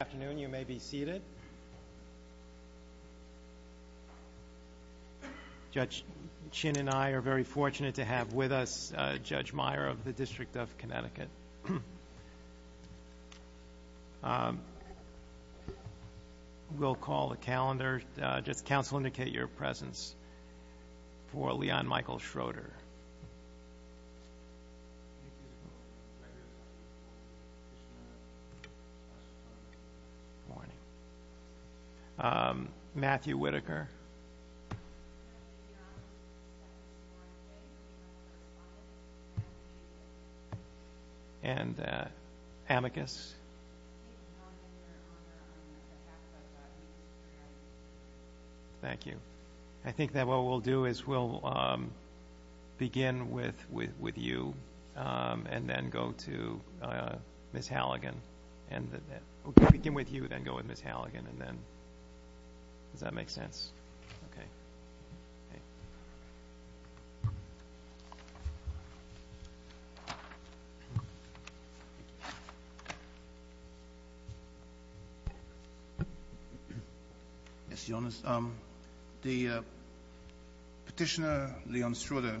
Afternoon, you may be seated. Judge Chin and I are very fortunate to have with us Judge Meyer of the District of Connecticut. Just counsel, indicate your presence for Leon Michael Schroeter. Good morning, Matthew Whitaker. And Amicus. Thank you. I think that what we'll do is we'll begin with you and then go to Ms. Halligan. And then we'll begin with you, then go with Ms. Halligan, and then, does that make sense? Okay. Okay. Yes, your Honor, the Petitioner Leon Schroeter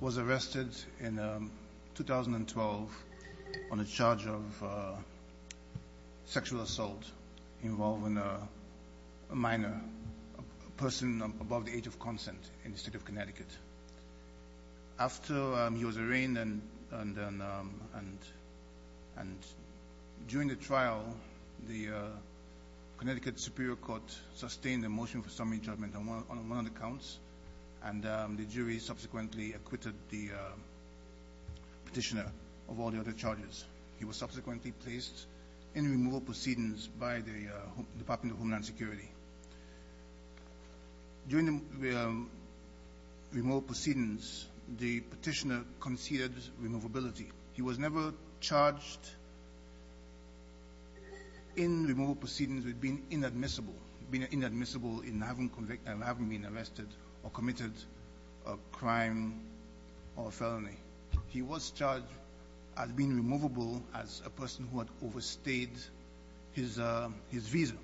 was arrested in 2012 on a charge of sexual assault. Involving a minor, a person above the age of consent in the state of Connecticut. After he was arraigned and during the trial, the Connecticut Superior Court sustained a motion for summary judgment on one of the counts. And the jury subsequently acquitted the petitioner of all the other charges. He was subsequently placed in removal proceedings by the Department of Homeland Security. During the removal proceedings, the petitioner conceded removability. He was never charged in removal proceedings with being inadmissible. Being inadmissible in having been arrested or committed a crime or a felony. He was charged as being removable as a person who had overstayed his visa.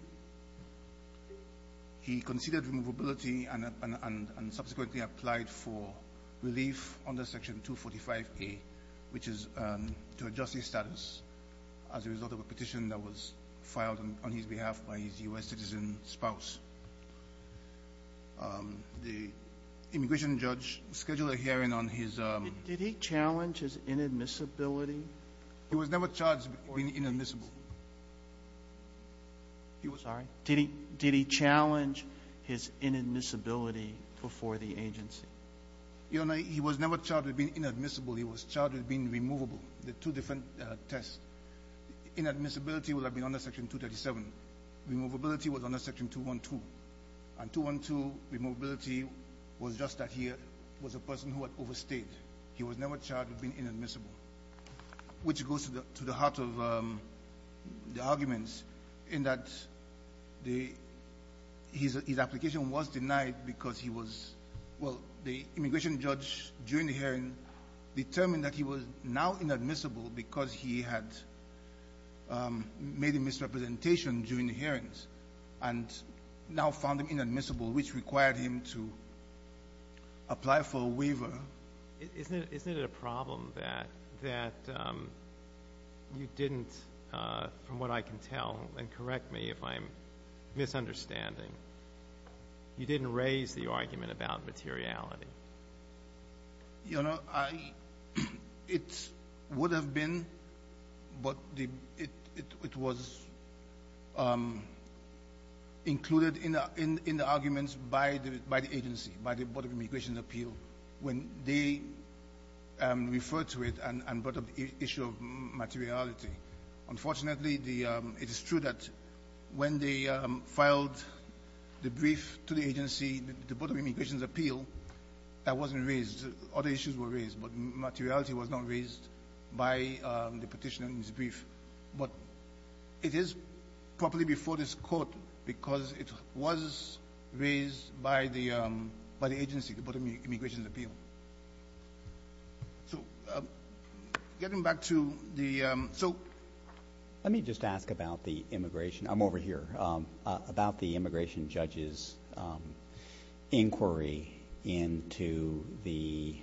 He conceded removability and subsequently applied for relief under Section 245A, which is to adjust his status as a result of a petition that was filed on his behalf by his US citizen spouse. Did he challenge his inadmissibility? He was never charged with being inadmissible. He was- Sorry? Did he challenge his inadmissibility before the agency? Your Honor, he was never charged with being inadmissible. He was charged with being removable. The two different tests. Inadmissibility would have been under Section 237. Removability was under Section 212. And 212, removability was just that he was a person who had overstayed. He was never charged with being inadmissible. Which goes to the heart of the arguments in that his application was denied because he was, well, the immigration judge during the hearing determined that he was now inadmissible because he had made a misrepresentation during the hearings. And now found him inadmissible, which required him to apply for a waiver. Isn't it a problem that you didn't, from what I can tell, and correct me if I'm misunderstanding, you didn't raise the argument about materiality? Your Honor, it would have been, but it was included in the arguments by the agency, by the Board of Immigration's appeal, when they referred to it and brought up the issue of materiality. Unfortunately, it is true that when they filed the brief to the agency, the Board of Immigration's appeal, that wasn't raised. Other issues were raised, but materiality was not raised by the petitioner in his brief. But it is properly before this court because it was raised by the agency, the Board of Immigration's appeal. So, getting back to the, so. Let me just ask about the immigration, I'm over here, about the immigration judge's inquiry into the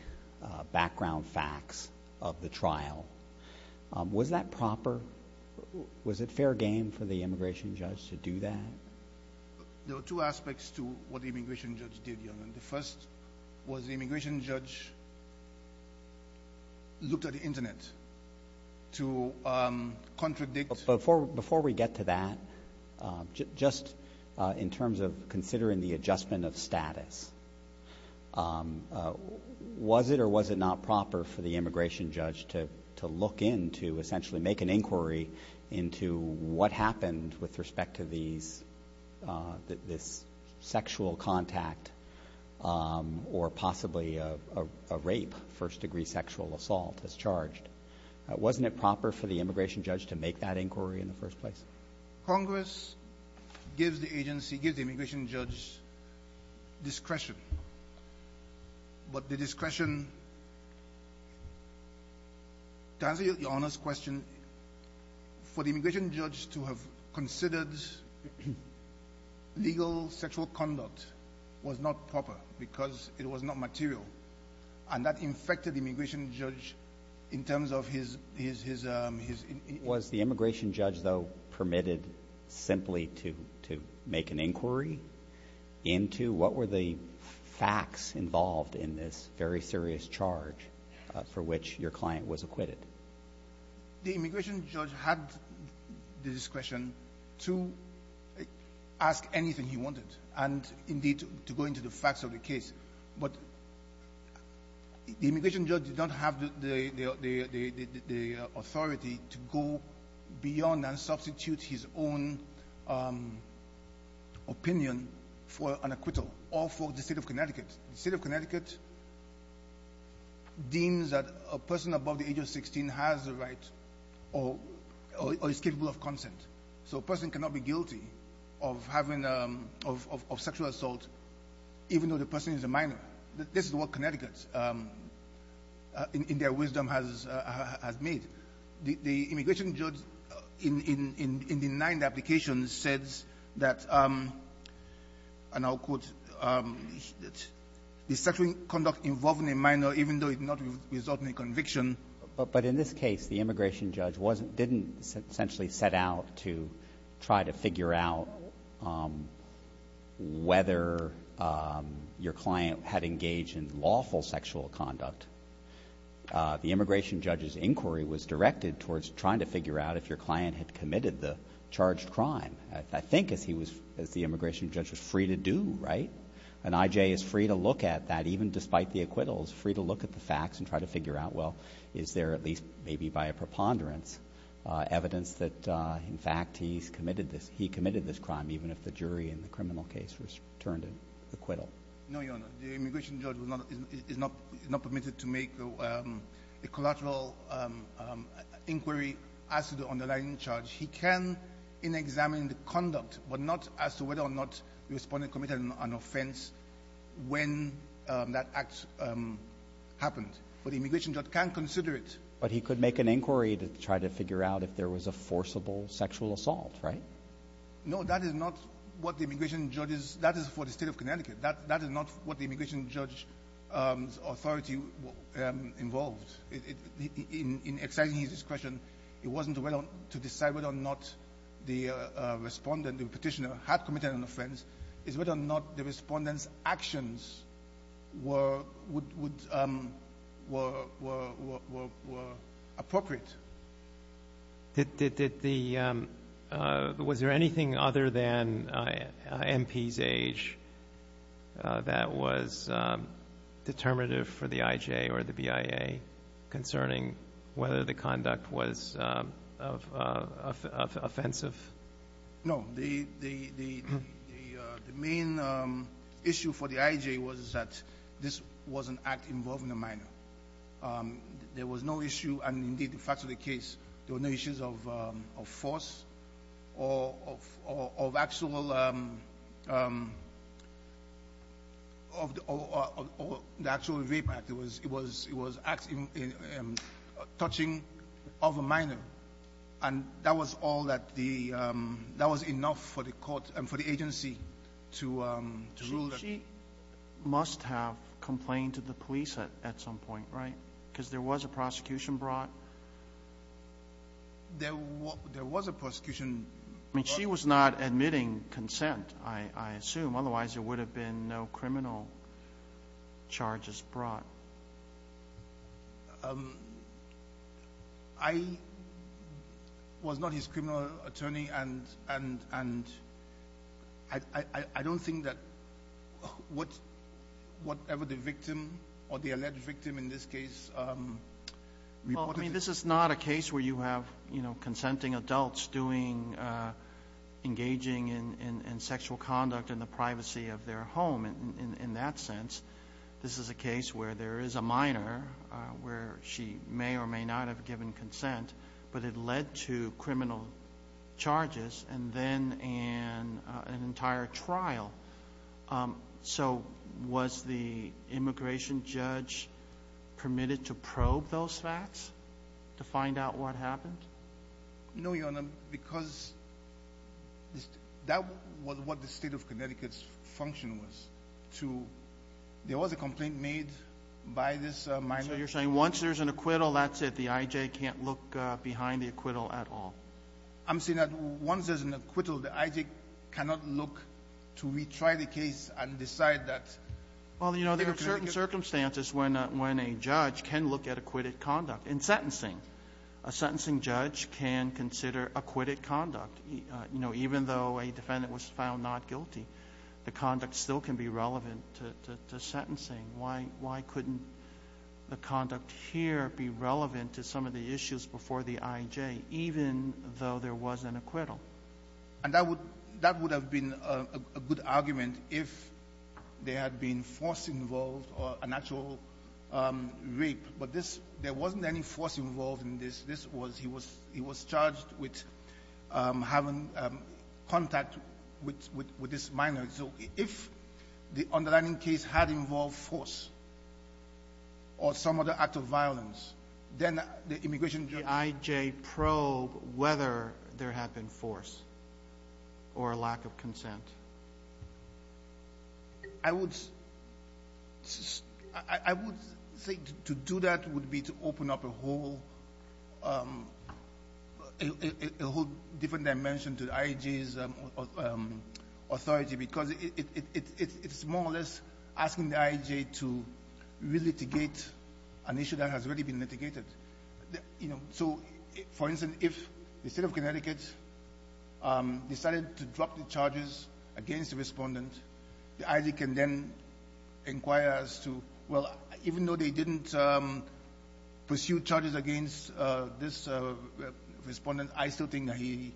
background facts of the trial. Was that proper? Was it fair game for the immigration judge to do that? There were two aspects to what the immigration judge did, Your Honor. The first was the immigration judge looked at the internet to contradict. Before we get to that, just in terms of considering the adjustment of status. Was it or was it not proper for the immigration judge to look in to essentially make an inquiry into what happened with respect to this sexual contact or possibly a rape, first degree sexual assault, as charged? Wasn't it proper for the immigration judge to make that inquiry in the first place? Congress gives the agency, gives the immigration judge discretion. But the discretion, to answer Your Honor's question, for the immigration judge to have considered legal sexual conduct was not proper because it was not material. And that infected the immigration judge in terms of his- Was the immigration judge, though, permitted simply to make an inquiry into what were the facts involved in this very serious charge for which your client was acquitted? The immigration judge had the discretion to ask anything he wanted. And indeed, to go into the facts of the case. But the immigration judge did not have the authority to go beyond and substitute his own opinion for an acquittal, or for the state of Connecticut. The state of Connecticut deems that a person above the age of 16 has the right, or is capable of consent. So a person cannot be guilty of having, of sexual assault, even though the person is a minor. This is what Connecticut, in their wisdom, has made. The immigration judge, in denying the application, says that, and I'll quote, the sexual conduct involving a minor, even though it did not result in a conviction. But in this case, the immigration judge didn't essentially set out to try to figure out whether your client had engaged in lawful sexual conduct. The immigration judge's inquiry was directed towards trying to figure out if your client had committed the charged crime. I think as the immigration judge was free to do, right? An IJ is free to look at that, even despite the acquittals, free to look at the facts and try to figure out, well, is there at least maybe by a preponderance evidence that in fact he's committed this. Crime, even if the jury in the criminal case was turned to acquittal. No, your honor, the immigration judge is not permitted to make a collateral inquiry as to the underlying charge. He can in examine the conduct, but not as to whether or not the respondent committed an offense when that act happened. But the immigration judge can consider it. But he could make an inquiry to try to figure out if there was a forcible sexual assault, right? No, that is not what the immigration judge's, that is for the state of Connecticut. That is not what the immigration judge's authority involved. In exciting his question, it wasn't to decide whether or not the respondent, the petitioner, had committed an offense. It's whether or not the respondent's actions were appropriate. Was there anything other than MP's age that was determinative for the IJ or the BIA concerning whether the conduct was offensive? No, the main issue for the IJ was that this was an act involving a minor. There was no issue, and indeed the facts of the case, there were no issues of force or of actual, of the actual rape act. It was touching of a minor. And that was all that the, that was enough for the court and for the agency to rule that. She must have complained to the police at some point, right? Because there was a prosecution brought. There was a prosecution brought. I mean, she was not admitting consent, I assume. Otherwise, there would have been no criminal charges brought. I was not his criminal attorney, and I don't think that whatever the victim or the alleged victim in this case reported. Well, I mean, this is not a case where you have consenting adults doing, engaging in sexual conduct in the privacy of their home, in that sense. This is a case where there is a minor, where she may or may not have given consent, but it led to criminal charges, and then an entire trial. So, was the immigration judge permitted to probe those facts, to find out what happened? No, Your Honor, because that was what the state of Connecticut's function was, to, there was a complaint made by this minor. So you're saying once there's an acquittal, that's it, the IJ can't look behind the acquittal at all? I'm saying that once there's an acquittal, the IJ cannot look to retry the case and decide that. Well, there are certain circumstances when a judge can look at acquitted conduct. In sentencing, a sentencing judge can consider acquitted conduct. Even though a defendant was found not guilty, the conduct still can be relevant to sentencing. Why couldn't the conduct here be relevant to some of the issues before the IJ, even though there was an acquittal? And that would have been a good argument if there had been force involved or an actual rape. But this, there wasn't any force involved in this. This was, he was charged with having contact with this minor. So if the underlying case had involved force or some other act of violence, then the immigration judge- The IJ probe whether there had been force or a lack of consent. I would, I would think to do that would be to open up a whole, a whole different dimension to the IJ's authority. Because it's more or less asking the IJ to re-litigate an issue that has already been litigated. So, for instance, if the state of Connecticut decided to drop the charges against the respondent, the IJ can then inquire as to, well, even though they didn't pursue charges against this respondent, I still think that he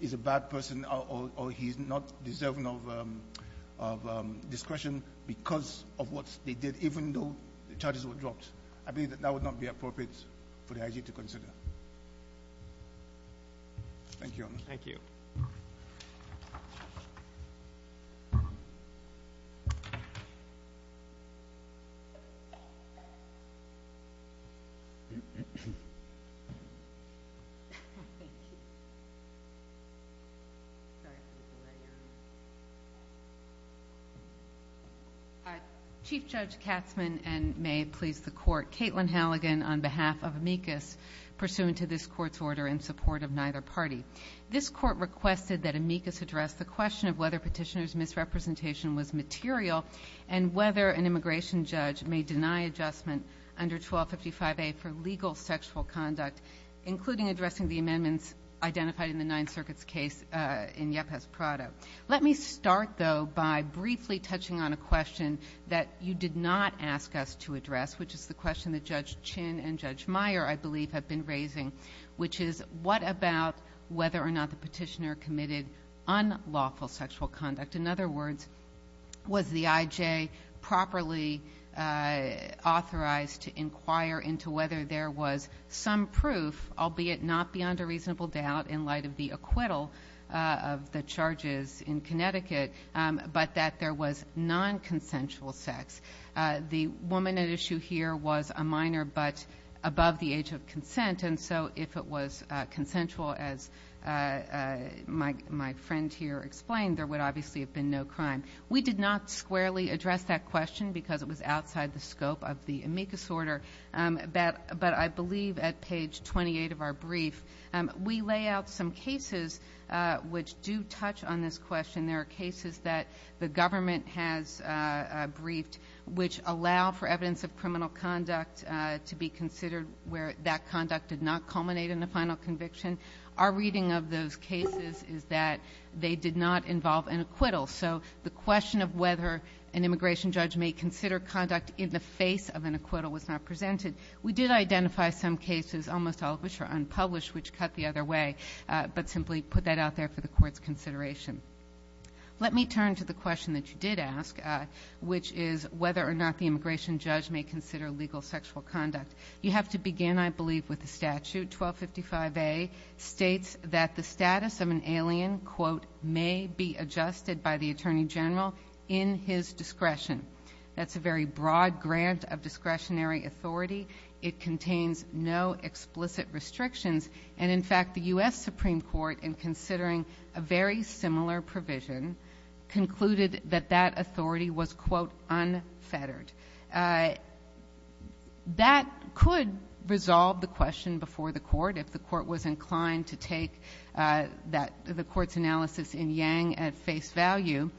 is a bad person or he's not deserving of discretion because of what they did, even though the charges were dropped. I believe that that would not be appropriate for the IJ to consider. Thank you. Thank you. Chief Judge Katzman and may it please the court. Caitlin Halligan on behalf of amicus, pursuant to this court's order in support of neither party. This court requested that amicus address the question of whether petitioner's misrepresentation was material, and whether an immigration judge may deny adjustment under 1255A for legal sexual conduct, including addressing the amendments identified in the Ninth Circuit's case in Yepes Prado. Let me start, though, by briefly touching on a question that you did not ask us to address, which is the question that Judge Chin and Judge Meyer, I believe, have been raising. Which is, what about whether or not the petitioner committed unlawful sexual conduct? In other words, was the IJ properly authorized to inquire into whether there was some proof, albeit not beyond a reasonable doubt in light of the acquittal of the charges in Connecticut. But that there was non-consensual sex. The woman at issue here was a minor, but above the age of consent. And so if it was consensual, as my friend here explained, there would obviously have been no crime. We did not squarely address that question because it was outside the scope of the amicus order. But I believe at page 28 of our brief, we lay out some cases which do touch on this question. There are cases that the government has briefed which allow for evidence of criminal conduct to be considered where that conduct did not culminate in a final conviction. Our reading of those cases is that they did not involve an acquittal. So the question of whether an immigration judge may consider conduct in the face of an acquittal was not presented. We did identify some cases, almost all of which are unpublished, which cut the other way. But simply put that out there for the court's consideration. Let me turn to the question that you did ask, which is whether or not the immigration judge may consider legal sexual conduct. You have to begin, I believe, with the statute, 1255A states that the status of an alien, quote, may be adjusted by the Attorney General in his discretion. That's a very broad grant of discretionary authority. It contains no explicit restrictions. And in fact, the US Supreme Court, in considering a very similar provision, concluded that that authority was, quote, unfettered. That could resolve the question before the court if the court was inclined to take the court's analysis in Yang at face value.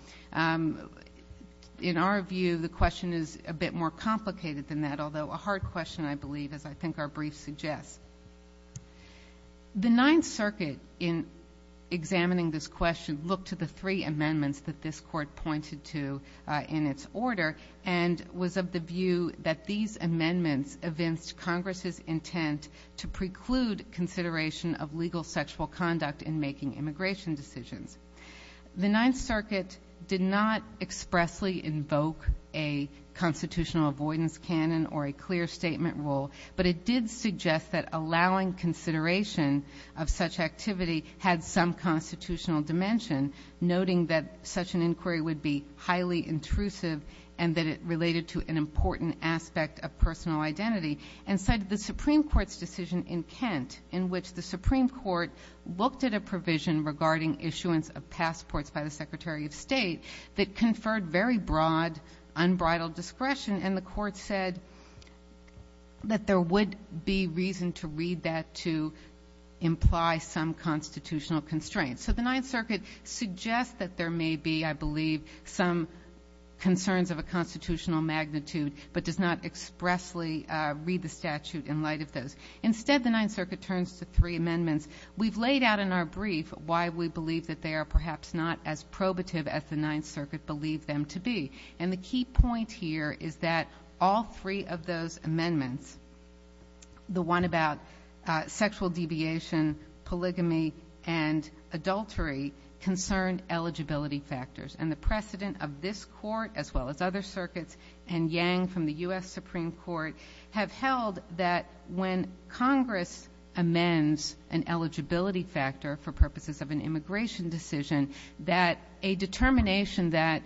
In our view, the question is a bit more complicated than that, although a hard question, I believe, as I think our brief suggests. The Ninth Circuit, in examining this question, looked to the three amendments that this court pointed to in its order and was of the view that these amendments evinced Congress's intent to preclude consideration of legal sexual conduct in making immigration decisions. The Ninth Circuit did not expressly invoke a constitutional avoidance canon or a clear statement rule. But it did suggest that allowing consideration of such activity had some constitutional dimension, noting that such an inquiry would be highly intrusive and that it related to an important aspect of personal identity. And cited the Supreme Court's decision in Kent, in which the Supreme Court looked at a provision regarding issuance of passports by the Secretary of State that conferred very broad, unbridled discretion. And the court said that there would be reason to read that to imply some constitutional constraints. So the Ninth Circuit suggests that there may be, I believe, some concerns of a constitutional magnitude, but does not expressly read the statute in light of those. Instead, the Ninth Circuit turns to three amendments. We've laid out in our brief why we believe that they are perhaps not as probative as the Ninth Circuit believed them to be. And the key point here is that all three of those amendments, the one about sexual deviation, polygamy, and adultery, concerned eligibility factors, and the precedent of this court, as well as other circuits, and Yang from the US Supreme Court have held that when Congress amends an eligibility factor for purposes of an immigration decision, that a determination that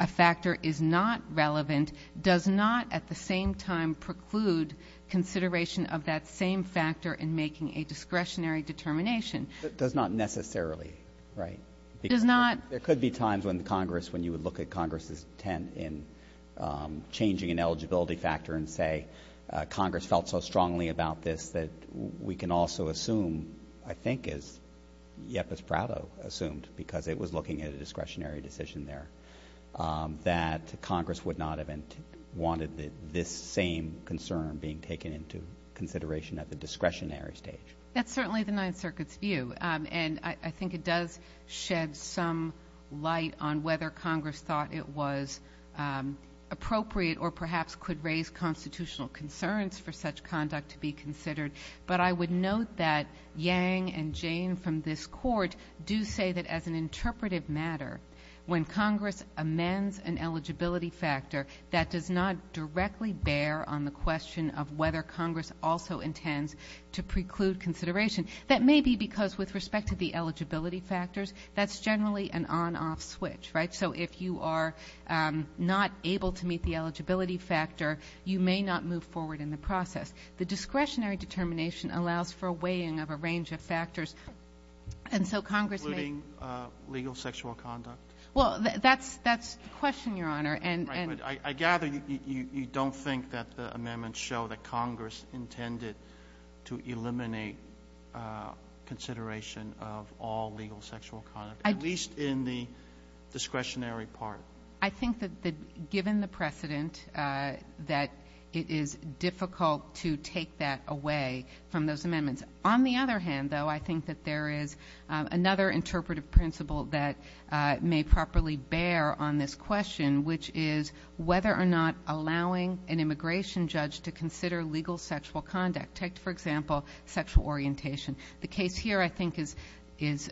a factor is not relevant does not, at the same time, preclude consideration of that same factor in making a discretionary determination. Does not necessarily, right? Does not. There could be times when Congress, when you would look at Congress's intent in changing an eligibility factor and say, Congress felt so strongly about this that we can also assume, I think, as Yepis Prado assumed, because it was looking at a discretionary decision there, that Congress would not have wanted this same concern being taken into consideration at the discretionary stage. That's certainly the Ninth Circuit's view, and I think it does shed some light on whether Congress thought it was appropriate or perhaps could raise constitutional concerns for such conduct to be considered. But I would note that Yang and Jane from this court do say that as an interpretive matter, when Congress amends an eligibility factor that does not directly bear on the question of whether Congress also intends to preclude consideration. That may be because with respect to the eligibility factors, that's generally an on-off switch, right? So if you are not able to meet the eligibility factor, you may not move forward in the process. The discretionary determination allows for a weighing of a range of factors. And so Congress may- Including legal sexual conduct? Well, that's the question, Your Honor, and- I gather you don't think that the amendments show that Congress intended to eliminate consideration of all legal sexual conduct, at least in the discretionary part. I think that given the precedent, that it is difficult to take that away from those amendments. On the other hand, though, I think that there is another interpretive principle that may properly bear on this question, which is whether or not allowing an immigration judge to consider legal sexual conduct. Take, for example, sexual orientation. The case here, I think, is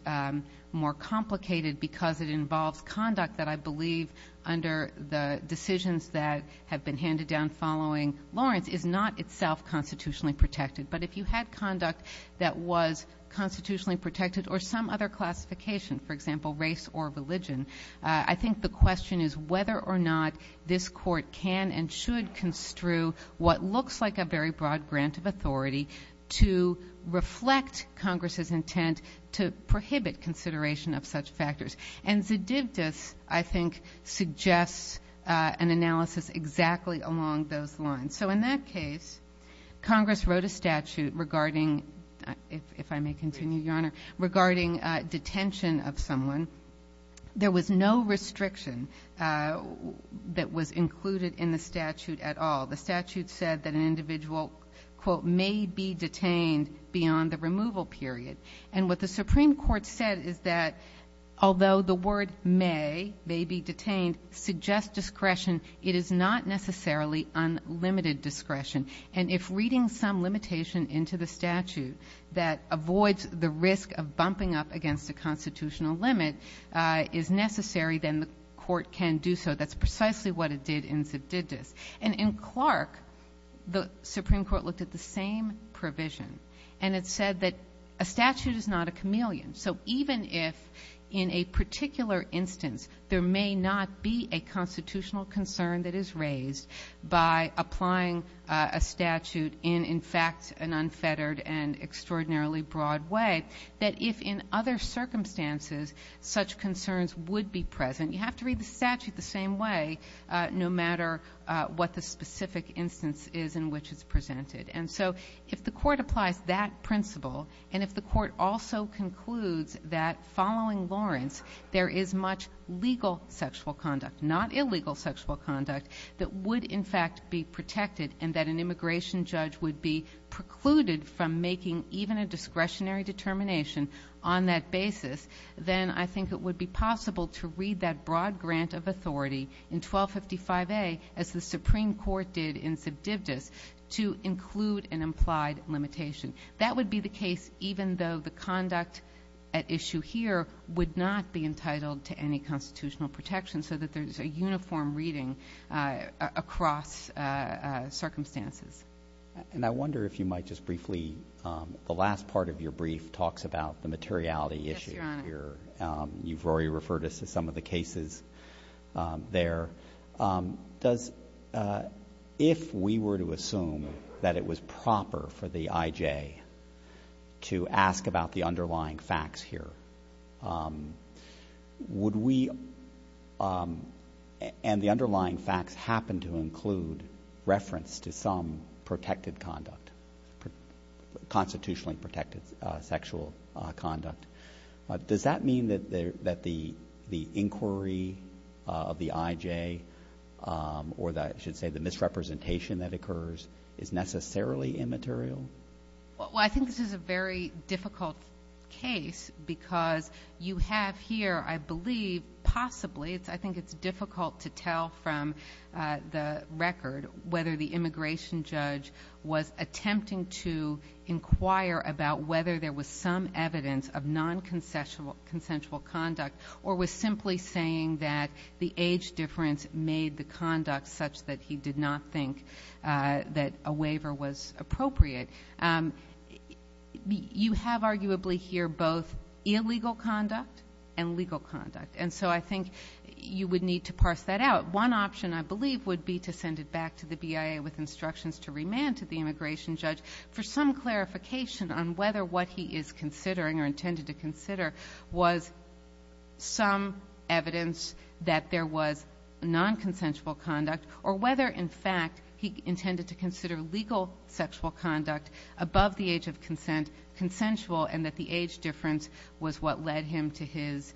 more complicated because it involves conduct that I believe under the decisions that have been handed down following Lawrence is not itself constitutionally protected. But if you had conduct that was constitutionally protected or some other classification, for example, race or religion, I think the question is whether or not this court can and should construe what looks like a very broad grant of authority to reflect Congress's intent to prohibit consideration of such factors. And Zdivtas, I think, suggests an analysis exactly along those lines. So in that case, Congress wrote a statute regarding, if I may continue, Your Honor, regarding detention of someone. There was no restriction that was included in the statute at all. The statute said that an individual, quote, may be detained beyond the removal period. And what the Supreme Court said is that although the word may, may be detained, suggest discretion, it is not necessarily unlimited discretion. And if reading some limitation into the statute that avoids the risk of bumping up against a constitutional limit is necessary, then the court can do so. That's precisely what it did in Zdivtas. And in Clark, the Supreme Court looked at the same provision. And it said that a statute is not a chameleon. So even if, in a particular instance, there may not be a constitutional concern that is raised by applying a statute in, in fact, an unfettered and extraordinarily broad way, that if in other circumstances, such concerns would be present, you have to read the statute the same way, no matter what the specific instance is in which it's presented. And so, if the court applies that principle, and if the court also concludes that following Lawrence, there is much legal sexual conduct, not illegal sexual conduct, that would, in fact, be protected, and that an immigration judge would be precluded from making even a discretionary determination on that basis, then I think it would be possible to read that broad grant of authority in 1255A, as the Supreme Court did in Zdivtas, to include an implied limitation. That would be the case, even though the conduct at issue here would not be entitled to any constitutional protection, so that there's a uniform reading across circumstances. And I wonder if you might just briefly, the last part of your brief talks about the materiality issue here. You've already referred us to some of the cases there. Does, if we were to assume that it was proper for the IJ to ask about the underlying facts here, would we, and the underlying facts happen to include reference to some protected conduct, constitutionally protected sexual conduct, does that mean that the inquiry of the IJ or that, I should say, the misrepresentation that occurs is necessarily immaterial? Well, I think this is a very difficult case because you have here, I believe, possibly, I think it's difficult to tell from the record whether the immigration judge was attempting to inquire about whether there was some evidence of non-consensual conduct or was simply saying that the age difference made the conduct such that he did not think that a waiver was appropriate. You have, arguably, here both illegal conduct and legal conduct. And so I think you would need to parse that out. One option, I believe, would be to send it back to the BIA with instructions to remand to the immigration judge for some clarification on whether what he is considering or intended to consider was some evidence that there was non-consensual conduct or whether, in fact, he intended to consider legal sexual conduct above the age of consent consensual and that the age difference was what led him to his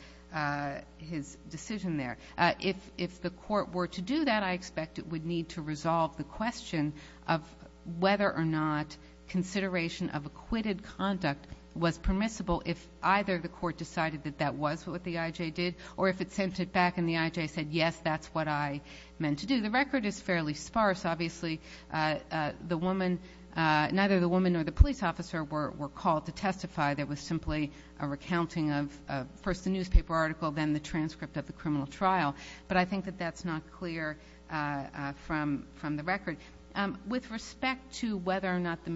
decision there. If the court were to do that, I expect it would need to resolve the question of whether or not consideration of acquitted conduct was permissible if either the court decided that that was what the IJ did or if it sent it back and the IJ said, yes, that's what I meant to do. The record is fairly sparse. Obviously, the woman, neither the woman nor the police officer were called to testify. There was simply a recounting of first the newspaper article, then the transcript of the criminal trial. But I think that that's not clear from the record. With respect to whether or not the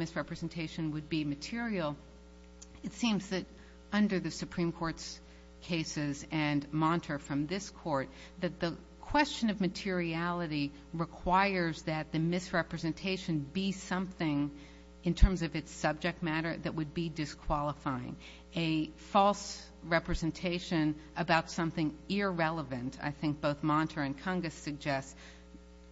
under the Supreme Court's cases and Monter from this court, that the question of materiality requires that the misrepresentation be something in terms of its subject matter that would be disqualifying. A false representation about something irrelevant, I think both Monter and Cungus suggest,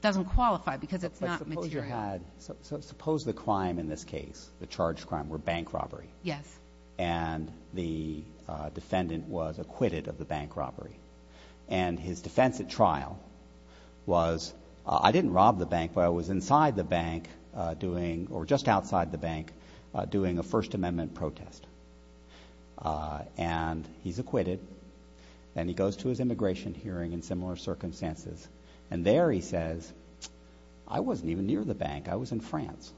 doesn't qualify because it's not material. Suppose the crime in this case, the charged crime, were bank robbery. Yes. And the defendant was acquitted of the bank robbery. And his defense at trial was, I didn't rob the bank, but I was inside the bank doing or just outside the bank doing a First Amendment protest. And he's acquitted and he goes to his immigration hearing in similar circumstances. And there he says, I wasn't near the bank. I was in France.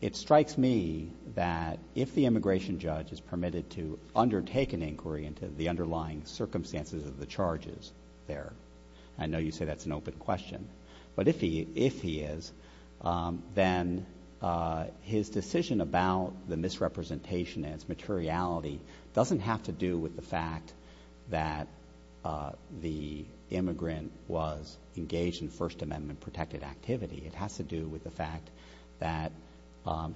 It strikes me that if the immigration judge is permitted to undertake an inquiry into the underlying circumstances of the charges there, I know you say that's an open question, but if he is, then his decision about the misrepresentation and its materiality doesn't have to do with the fact that the immigrant was engaged in First Amendment-protected activity. It has to do with the fact that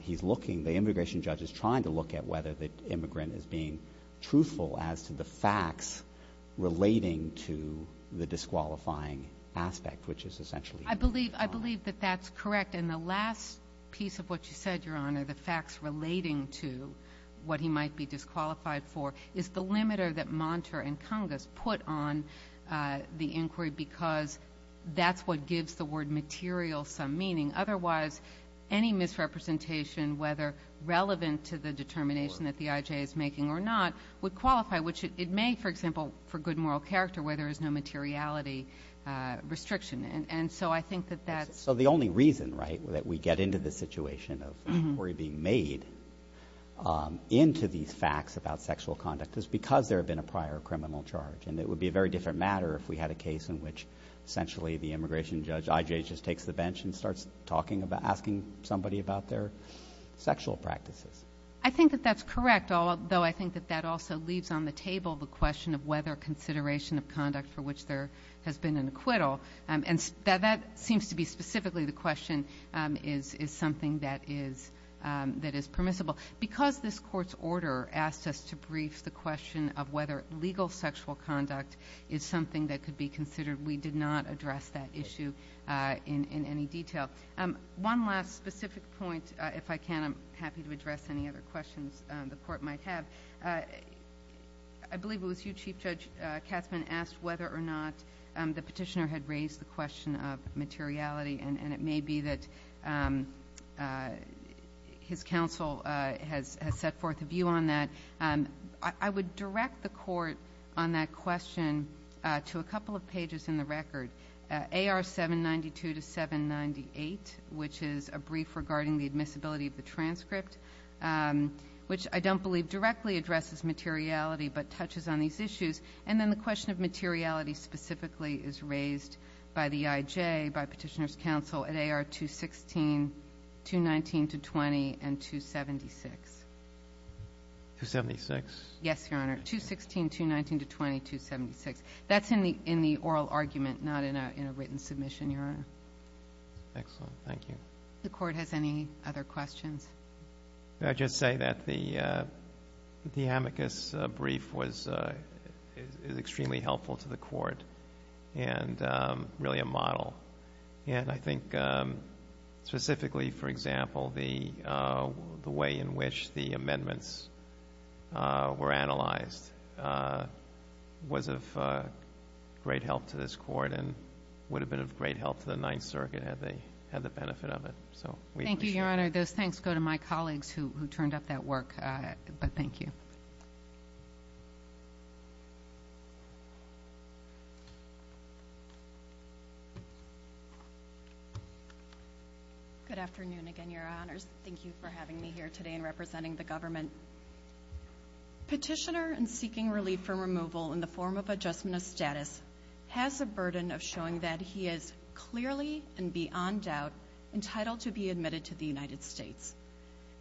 he's looking, the immigration judge is trying to look at whether the immigrant is being truthful as to the facts relating to the disqualifying aspect, which is essentially. I believe, I believe that that's correct. And the last piece of what you said, Your Honor, the facts relating to what he might be disqualified for is the limiter that Monter and Congas put on the inquiry because that's what gives the word material some meaning. Otherwise, any misrepresentation, whether relevant to the determination that the IJ is making or not, would qualify, which it may, for example, for good moral character, where there is no materiality restriction. And so I think that that's. So the only reason, right, that we get into the situation of inquiry being made into these facts about sexual conduct is because there have been a prior criminal charge, and it would be a very different matter if we had a case in which essentially the immigration judge IJ just takes the bench and starts talking about, asking somebody about their sexual practices. I think that that's correct, although I think that that also leaves on the table the question of whether consideration of conduct for which there has been an acquittal, and that seems to be specifically the question, is something that is permissible. Because this Court's order asked us to brief the question of whether legal sexual conduct is something that could be considered, we did not address that issue in any detail. One last specific point, if I can, I'm happy to address any other questions the Court might have. I believe it was you, Chief Judge Katzmann, asked whether or not the petitioner had raised the question of materiality, and it may be that his counsel has set forth a view on that. I would direct the Court on that question to a couple of pages in the record. AR 792 to 798, which is a brief regarding the admissibility of the transcript, which I don't believe directly addresses materiality but touches on these issues. And then the question of materiality specifically is raised by the IJ, by Petitioner's counsel, at AR 216, 219 to 20, and 276. MR. COOPER 276? MS. COOPER Yes, Your Honor. 216, 219 to 20, 276. That's in the oral argument, not in a written submission, Your Honor. MR. COOPER Excellent. Thank you. MS. COOPER The Court has any other questions? MR. COOPER I'd just say that the amicus brief was extremely helpful to the Court and really a model. And I think specifically, for example, the way in which the amendments were analyzed was of great help to this Court and would have been of great help to the Ninth Circuit had they had the benefit of it. So we appreciate it. MS. COOPER Your Honor, those thanks go to my colleagues who turned up that work. But thank you. MS. COOPER Good afternoon again, Your Honors. Thank you for having me here today and representing the government. Petitioner in seeking relief from removal in the form of adjustment of status has a burden of showing that he is clearly and beyond doubt entitled to be admitted to the United States.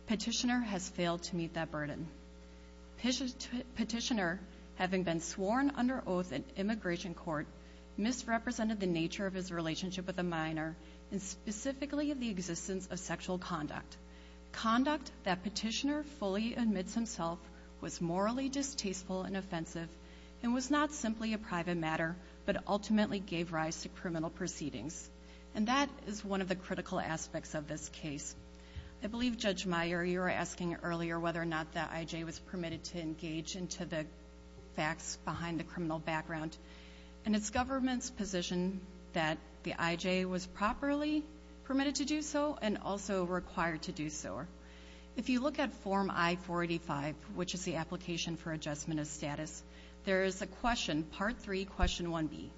Petitioner has failed to meet that burden. Petitioner, having been sworn under oath in immigration court, misrepresented the nature of his relationship with a minor and specifically the existence of sexual conduct. Conduct that petitioner fully admits himself was morally distasteful and offensive and was not simply a private matter but ultimately gave rise to criminal proceedings. And that is one of the critical aspects of this case. I believe, Judge Meyer, you were asking earlier whether or not the I.J. was permitted to engage into the facts behind the criminal background. And it's government's position that the I.J. was properly permitted to do so and also required to do so. If you look at Form I-485, which is the application for adjustment of status, there is a question, Part III, Question 1B.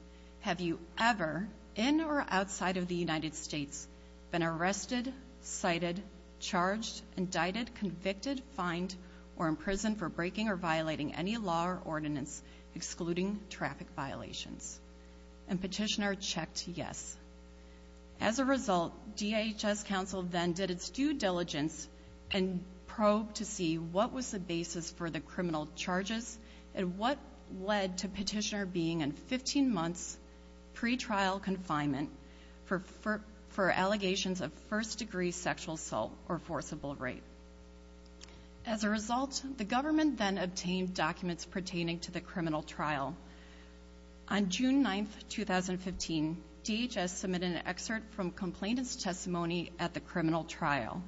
Have you ever, in or outside of the United States, been arrested, cited, charged, indicted, convicted, fined, or imprisoned for breaking or violating any law or ordinance, excluding traffic violations? And petitioner checked yes. As a result, DHS counsel then did its due diligence and probed to see what was the basis for the criminal charges and what led to petitioner being in 15 months pre-trial confinement for allegations of first-degree sexual assault or forcible rape. As a result, the government then obtained documents pertaining to the criminal trial. On June 9, 2015, DHS submitted an excerpt from complainant's testimony at the criminal trial.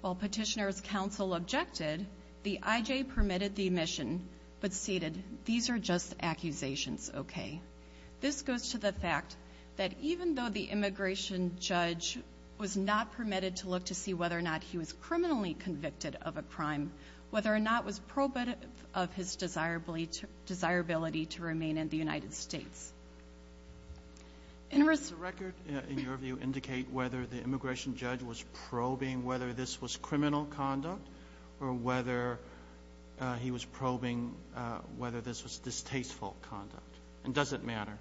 While petitioner's counsel objected, the I.J. permitted the admission but stated, these are just accusations, okay? This goes to the fact that even though the immigration judge was not permitted to look to see whether or not he was criminally convicted of a crime, whether or not it was probative of his desirability to remain in the United States. In response to the record, in your view, indicate whether the immigration judge was probing whether this was criminal conduct or whether he was probing whether this was distasteful conduct, and does it matter?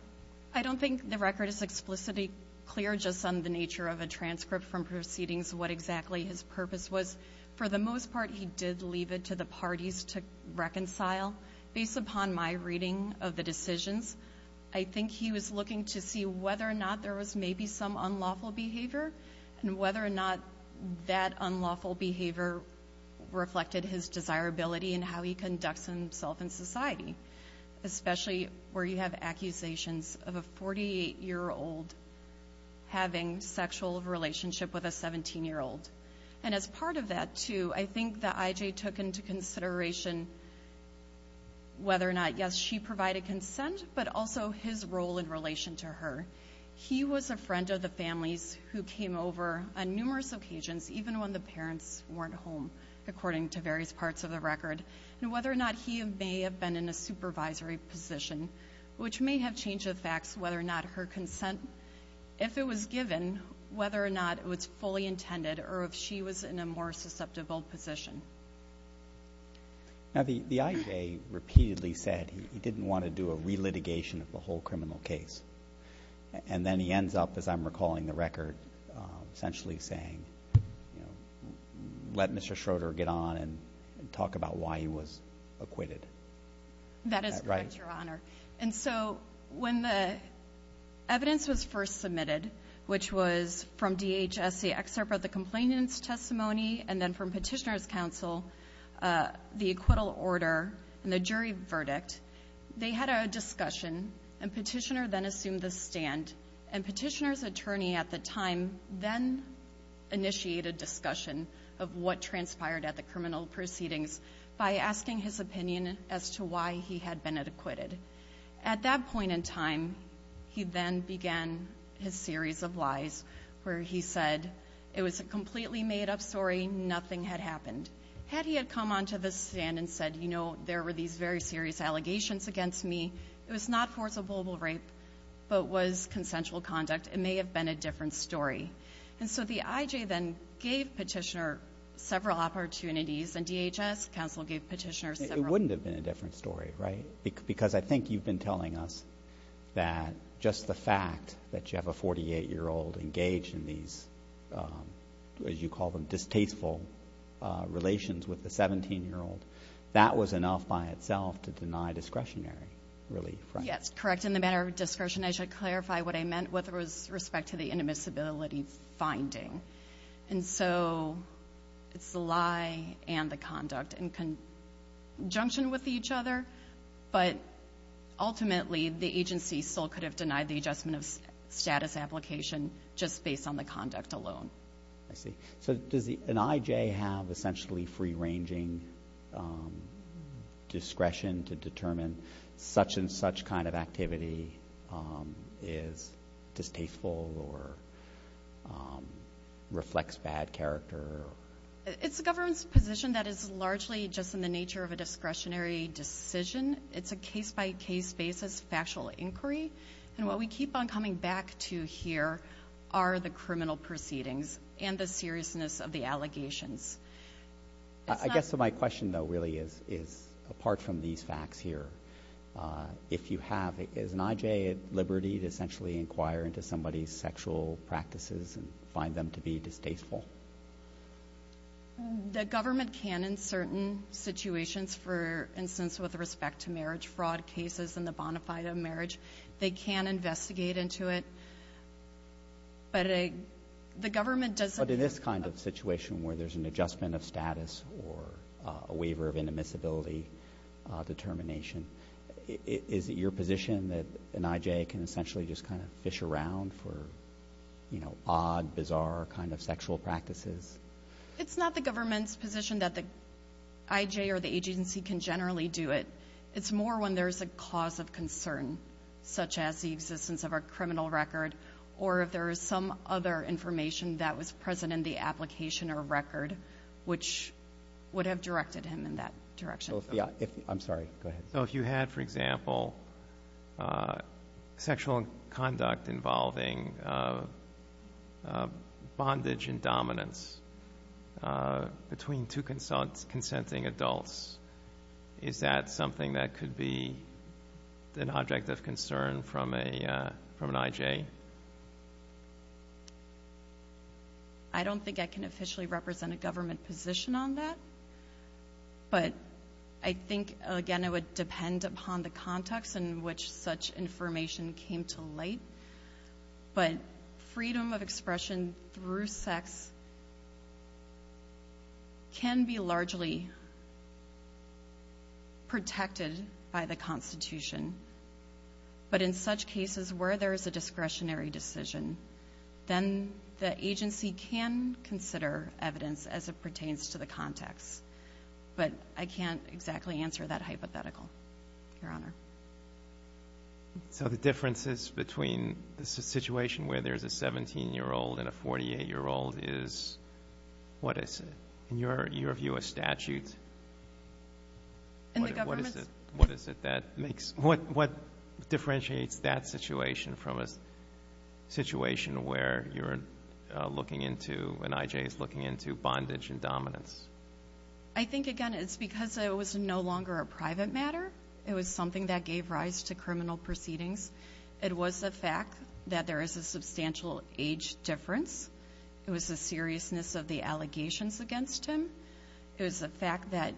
I don't think the record is explicitly clear just on the nature of a transcript from proceedings, what exactly his purpose was. For the most part, he did leave it to the parties to reconcile. Based upon my reading of the decisions, I think he was looking to see whether or not there was maybe some unlawful behavior and whether or not that unlawful behavior reflected his desirability and how he conducts himself in society, especially where you have accusations of a 48-year-old having sexual relationship with a 17-year-old. And as part of that too, I think the I.J. took into consideration whether or not, yes, she provided consent, but also his role in relation to her. He was a friend of the family's who came over on numerous occasions, even when the parents weren't home, according to various parts of the record, and whether or not he may have been in a supervisory position, which may have changed the facts whether or not her consent, if it was given, whether or not it was fully intended or if she was in a more susceptible position. Now, the I.J. repeatedly said he didn't want to do a re-litigation of the whole criminal case, and then he ends up, as I'm recalling the record, essentially saying, you know, let Mr. Schroeder get on and talk about why he was acquitted. That is correct, Your Honor. And so when the evidence was first submitted, which was from DHS, the excerpt of the complainant's petitioner's counsel, the acquittal order, and the jury verdict, they had a discussion, and petitioner then assumed the stand, and petitioner's attorney at the time then initiated discussion of what transpired at the criminal proceedings by asking his opinion as to why he had been acquitted. At that point in time, he then began his series of lies where he said it was a completely made-up story, nothing had happened. Had he had come on to the stand and said, you know, there were these very serious allegations against me, it was not forcible rape, but was consensual conduct, it may have been a different story. And so the I.J. then gave petitioner several opportunities, and DHS counsel gave petitioner several. It wouldn't have been a different story, right? Because I think you've been telling us that just the fact that you have a 48-year-old engaged in these, as you call them, distasteful relations with the 17-year-old, that was enough by itself to deny discretionary relief, right? Yes, correct. In the matter of discretion, I should clarify what I meant with respect to the inadmissibility finding. And so it's the lie and the conduct in conjunction with each other, but ultimately the agency still could have denied the adjustment of status application just based on the conduct alone. I see. So does an I.J. have essentially free-ranging discretion to determine such and such kind of activity is distasteful or reflects bad character? It's a government's position that is largely just in the nature of a discretionary decision. It's a case-by-case basis, factual inquiry. And what we keep on coming back to here are the criminal proceedings and the seriousness of the allegations. I guess my question, though, really is apart from these facts here, if you have, is an I.J. at liberty to essentially inquire into somebody's sexual practices and find them to be distasteful? The government can in certain situations, for instance, with respect to marriage fraud cases and the bonafide of marriage, they can investigate into it. But the government doesn't But in this kind of situation where there's an adjustment of status or a waiver of inadmissibility determination, is it your position that an I.J. can essentially just kind of fish around for, you know, odd, bizarre kind of sexual practices? It's not the government's position that the I.J. or the agency can generally do it. It's more when there's a cause of concern, such as the existence of a criminal record, or if there is some other information that was present in the application or record, which would have directed him in that direction. I'm sorry. Go ahead. If you had, for example, sexual conduct involving bondage and dominance between two consenting adults, is that something that could be an object of concern from an I.J.? I don't think I can officially represent a government position on that. But I think, again, it would depend upon the context in which such information came to light. But freedom of expression through sex can be largely protected by the Constitution. But in such cases where there is a discretionary decision, then the agency can consider evidence as it pertains to the context. But I can't exactly answer that hypothetical, Your Honor. So the differences between the situation where there's a 17-year-old and a 48-year-old is, what is it, in your view, a statute? In the government's? What is it that makes, what differentiates that situation from a situation where you're looking into, an I.J. is looking into bondage and dominance? I think, again, it's because it was no longer a private matter. It was something that gave rise to criminal proceedings. It was the fact that there is a substantial age difference. It was the seriousness of the allegations against him. It was the fact that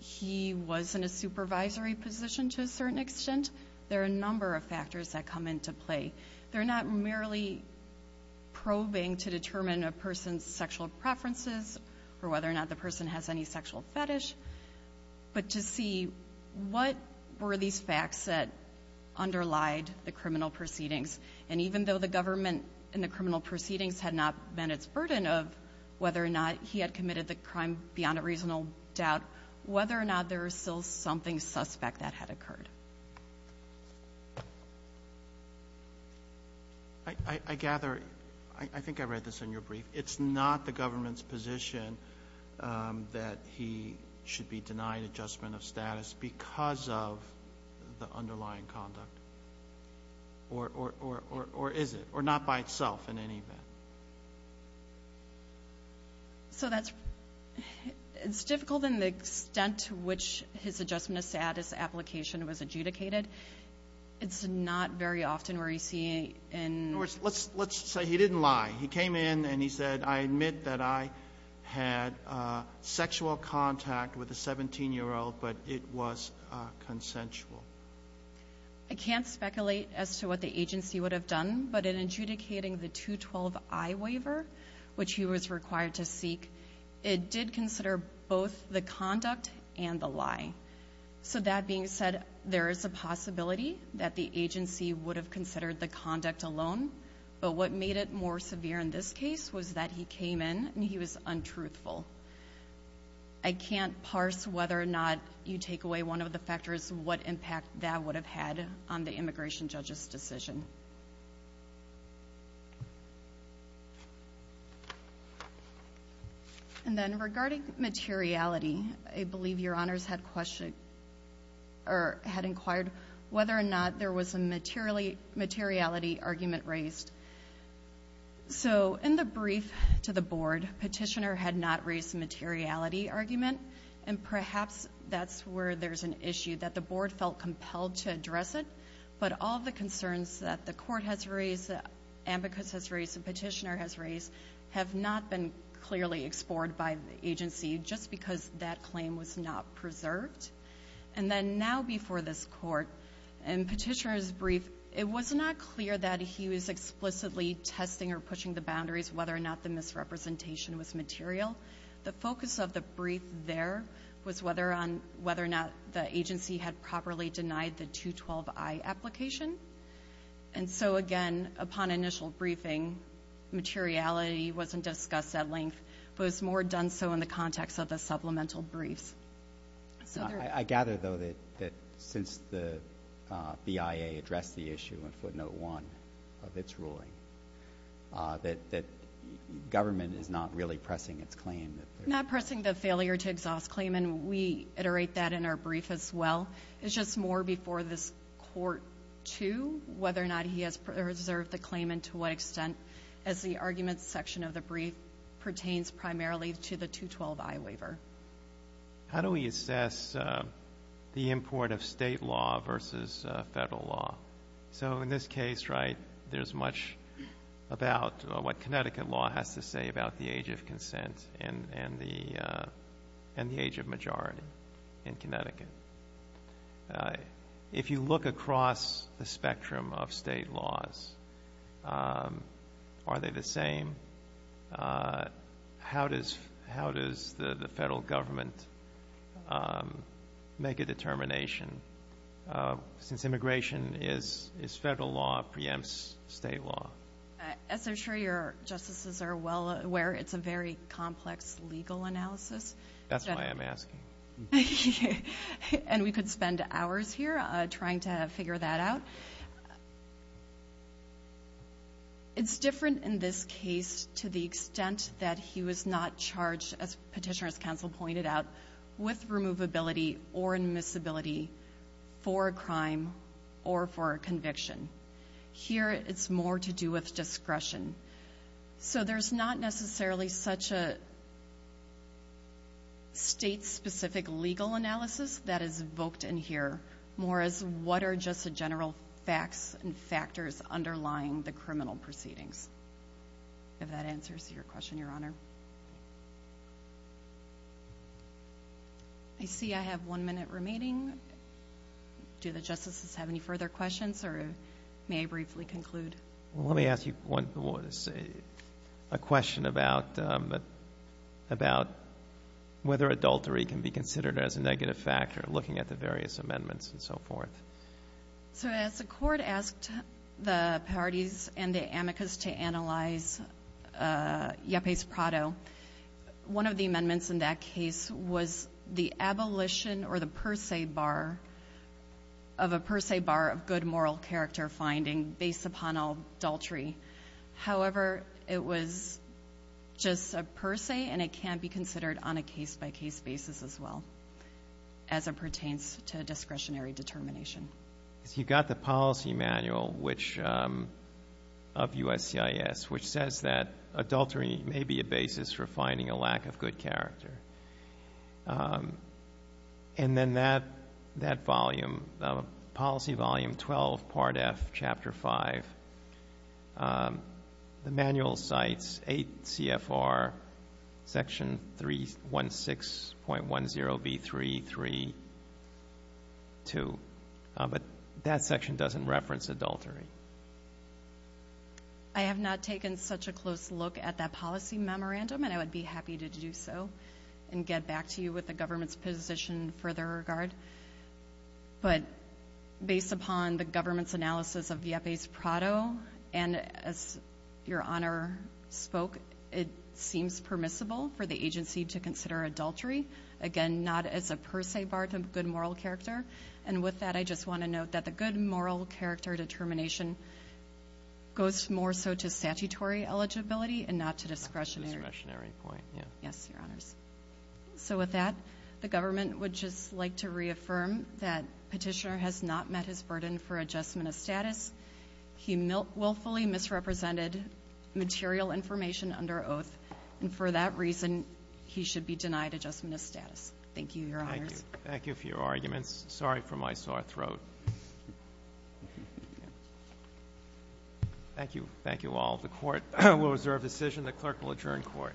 he was in a supervisory position to a certain extent. There are a number of factors that come into play. They're not merely probing to determine a person's sexual preferences or whether or not the person has any sexual fetish, but to see what were these facts that underlied the criminal proceedings. And even though the government and the criminal proceedings had not been its burden of whether or not he had committed the crime beyond a reasonable doubt, whether or not there was still something suspect that had occurred. I gather, I think I read this in your brief. It's not the government's position that he should be denied adjustment of status because of the underlying conduct, or is it? Or not by itself, in any event. So that's, it's difficult in the extent to which his adjustment of status application was adjudicated. It's not very often where you see in... In other words, let's say he didn't lie. He came in and he said, I admit that I had sexual contact with a 17-year-old, but it was consensual. I can't speculate as to what the agency would have done, but in adjudicating the 212I waiver, which he was required to seek, it did consider both the conduct and the lie. So that being said, there is a possibility that the agency would have considered the conduct alone, but what made it more severe in this case was that he came in and he was untruthful. I can't parse whether or not you take away one of the factors, what impact that would have had on the immigration judge's decision. And then regarding materiality, I believe your honors had questioned, or had inquired whether or not there was a materiality argument raised. So in the brief to the board, Petitioner had not raised a materiality argument, and perhaps that's where there's an issue that the board felt compelled to address it, but all the concerns that the court has raised, the ambicus has raised, the Petitioner has raised, have not been clearly explored by the agency just because that claim was not preserved. And then now before this court, in Petitioner's brief, it was not clear that he was explicitly testing or pushing the boundaries whether or not the misrepresentation was material. The focus of the brief there was whether or not the agency had properly denied the 212I application. And so, again, upon initial briefing, materiality wasn't discussed at length, but it was more done so in the context of the supplemental briefs. So I gather, though, that since the BIA addressed the issue in footnote one of its ruling, that government is not really pressing its claim. Not pressing the failure to exhaust claim, and we iterate that in our brief as well. It's just more before this court, too, whether or not he has preserved the claim, and to what extent, as the arguments section of the brief pertains primarily to the 212I waiver. How do we assess the import of state law versus federal law? So in this case, right, there's much about what Connecticut law has to say about the age of consent and the age of majority in Connecticut. If you look across the spectrum of state laws, are they the same? How does the federal government make a determination, since immigration is federal law preempts state law? As I'm sure your Justices are well aware, it's a very complex legal analysis. That's why I'm asking. And we could spend hours here trying to figure that out. It's different in this case to the extent that he was not charged, as Petitioner's Counsel pointed out, with removability or admissibility for a crime or for a conviction. Here it's more to do with discretion. So there's not necessarily such a state-specific legal analysis that is invoked in here, more as what are just the general facts and factors underlying the criminal proceedings? If that answers your question, Your Honor. I see I have one minute remaining. Do the Justices have any further questions, or may I briefly conclude? Let me ask you a question about whether adultery can be considered as a negative factor, looking at the various amendments and so forth. So as the Court asked the parties and the amicus to analyze Yepes Prado, one of the amendments in that case was the abolition or the per se bar of a per se bar of good moral character finding based upon adultery. However, it was just a per se, and it can be considered on a case-by-case basis as well as it pertains to discretionary determination. So you've got the policy manual of USCIS, which says that adultery may be a basis for finding a lack of good character. And then that policy volume 12, Part F, Chapter 5, the manual cites 8 CFR, Section 316.10B332, but that section doesn't reference adultery. I have not taken such a close look at that policy memorandum, and I would be happy to do so and get back to you with the government's position in further regard. But based upon the government's analysis of Yepes Prado, and as Your Honor spoke, it seems permissible for the agency to consider adultery. Again, not as a per se bar of good moral character. And with that, I just want to note that the good moral character determination goes more so to statutory eligibility and not to discretionary. Discretionary point, yeah. Yes, Your Honors. So with that, the government would just like to reaffirm that Petitioner has not met his burden for adjustment of status. He willfully misrepresented material information under oath. And for that reason, he should be denied adjustment of status. Thank you, Your Honors. Thank you for your arguments. Sorry for my sore throat. Thank you. Thank you all. The Court will reserve decision. The Clerk will adjourn Court.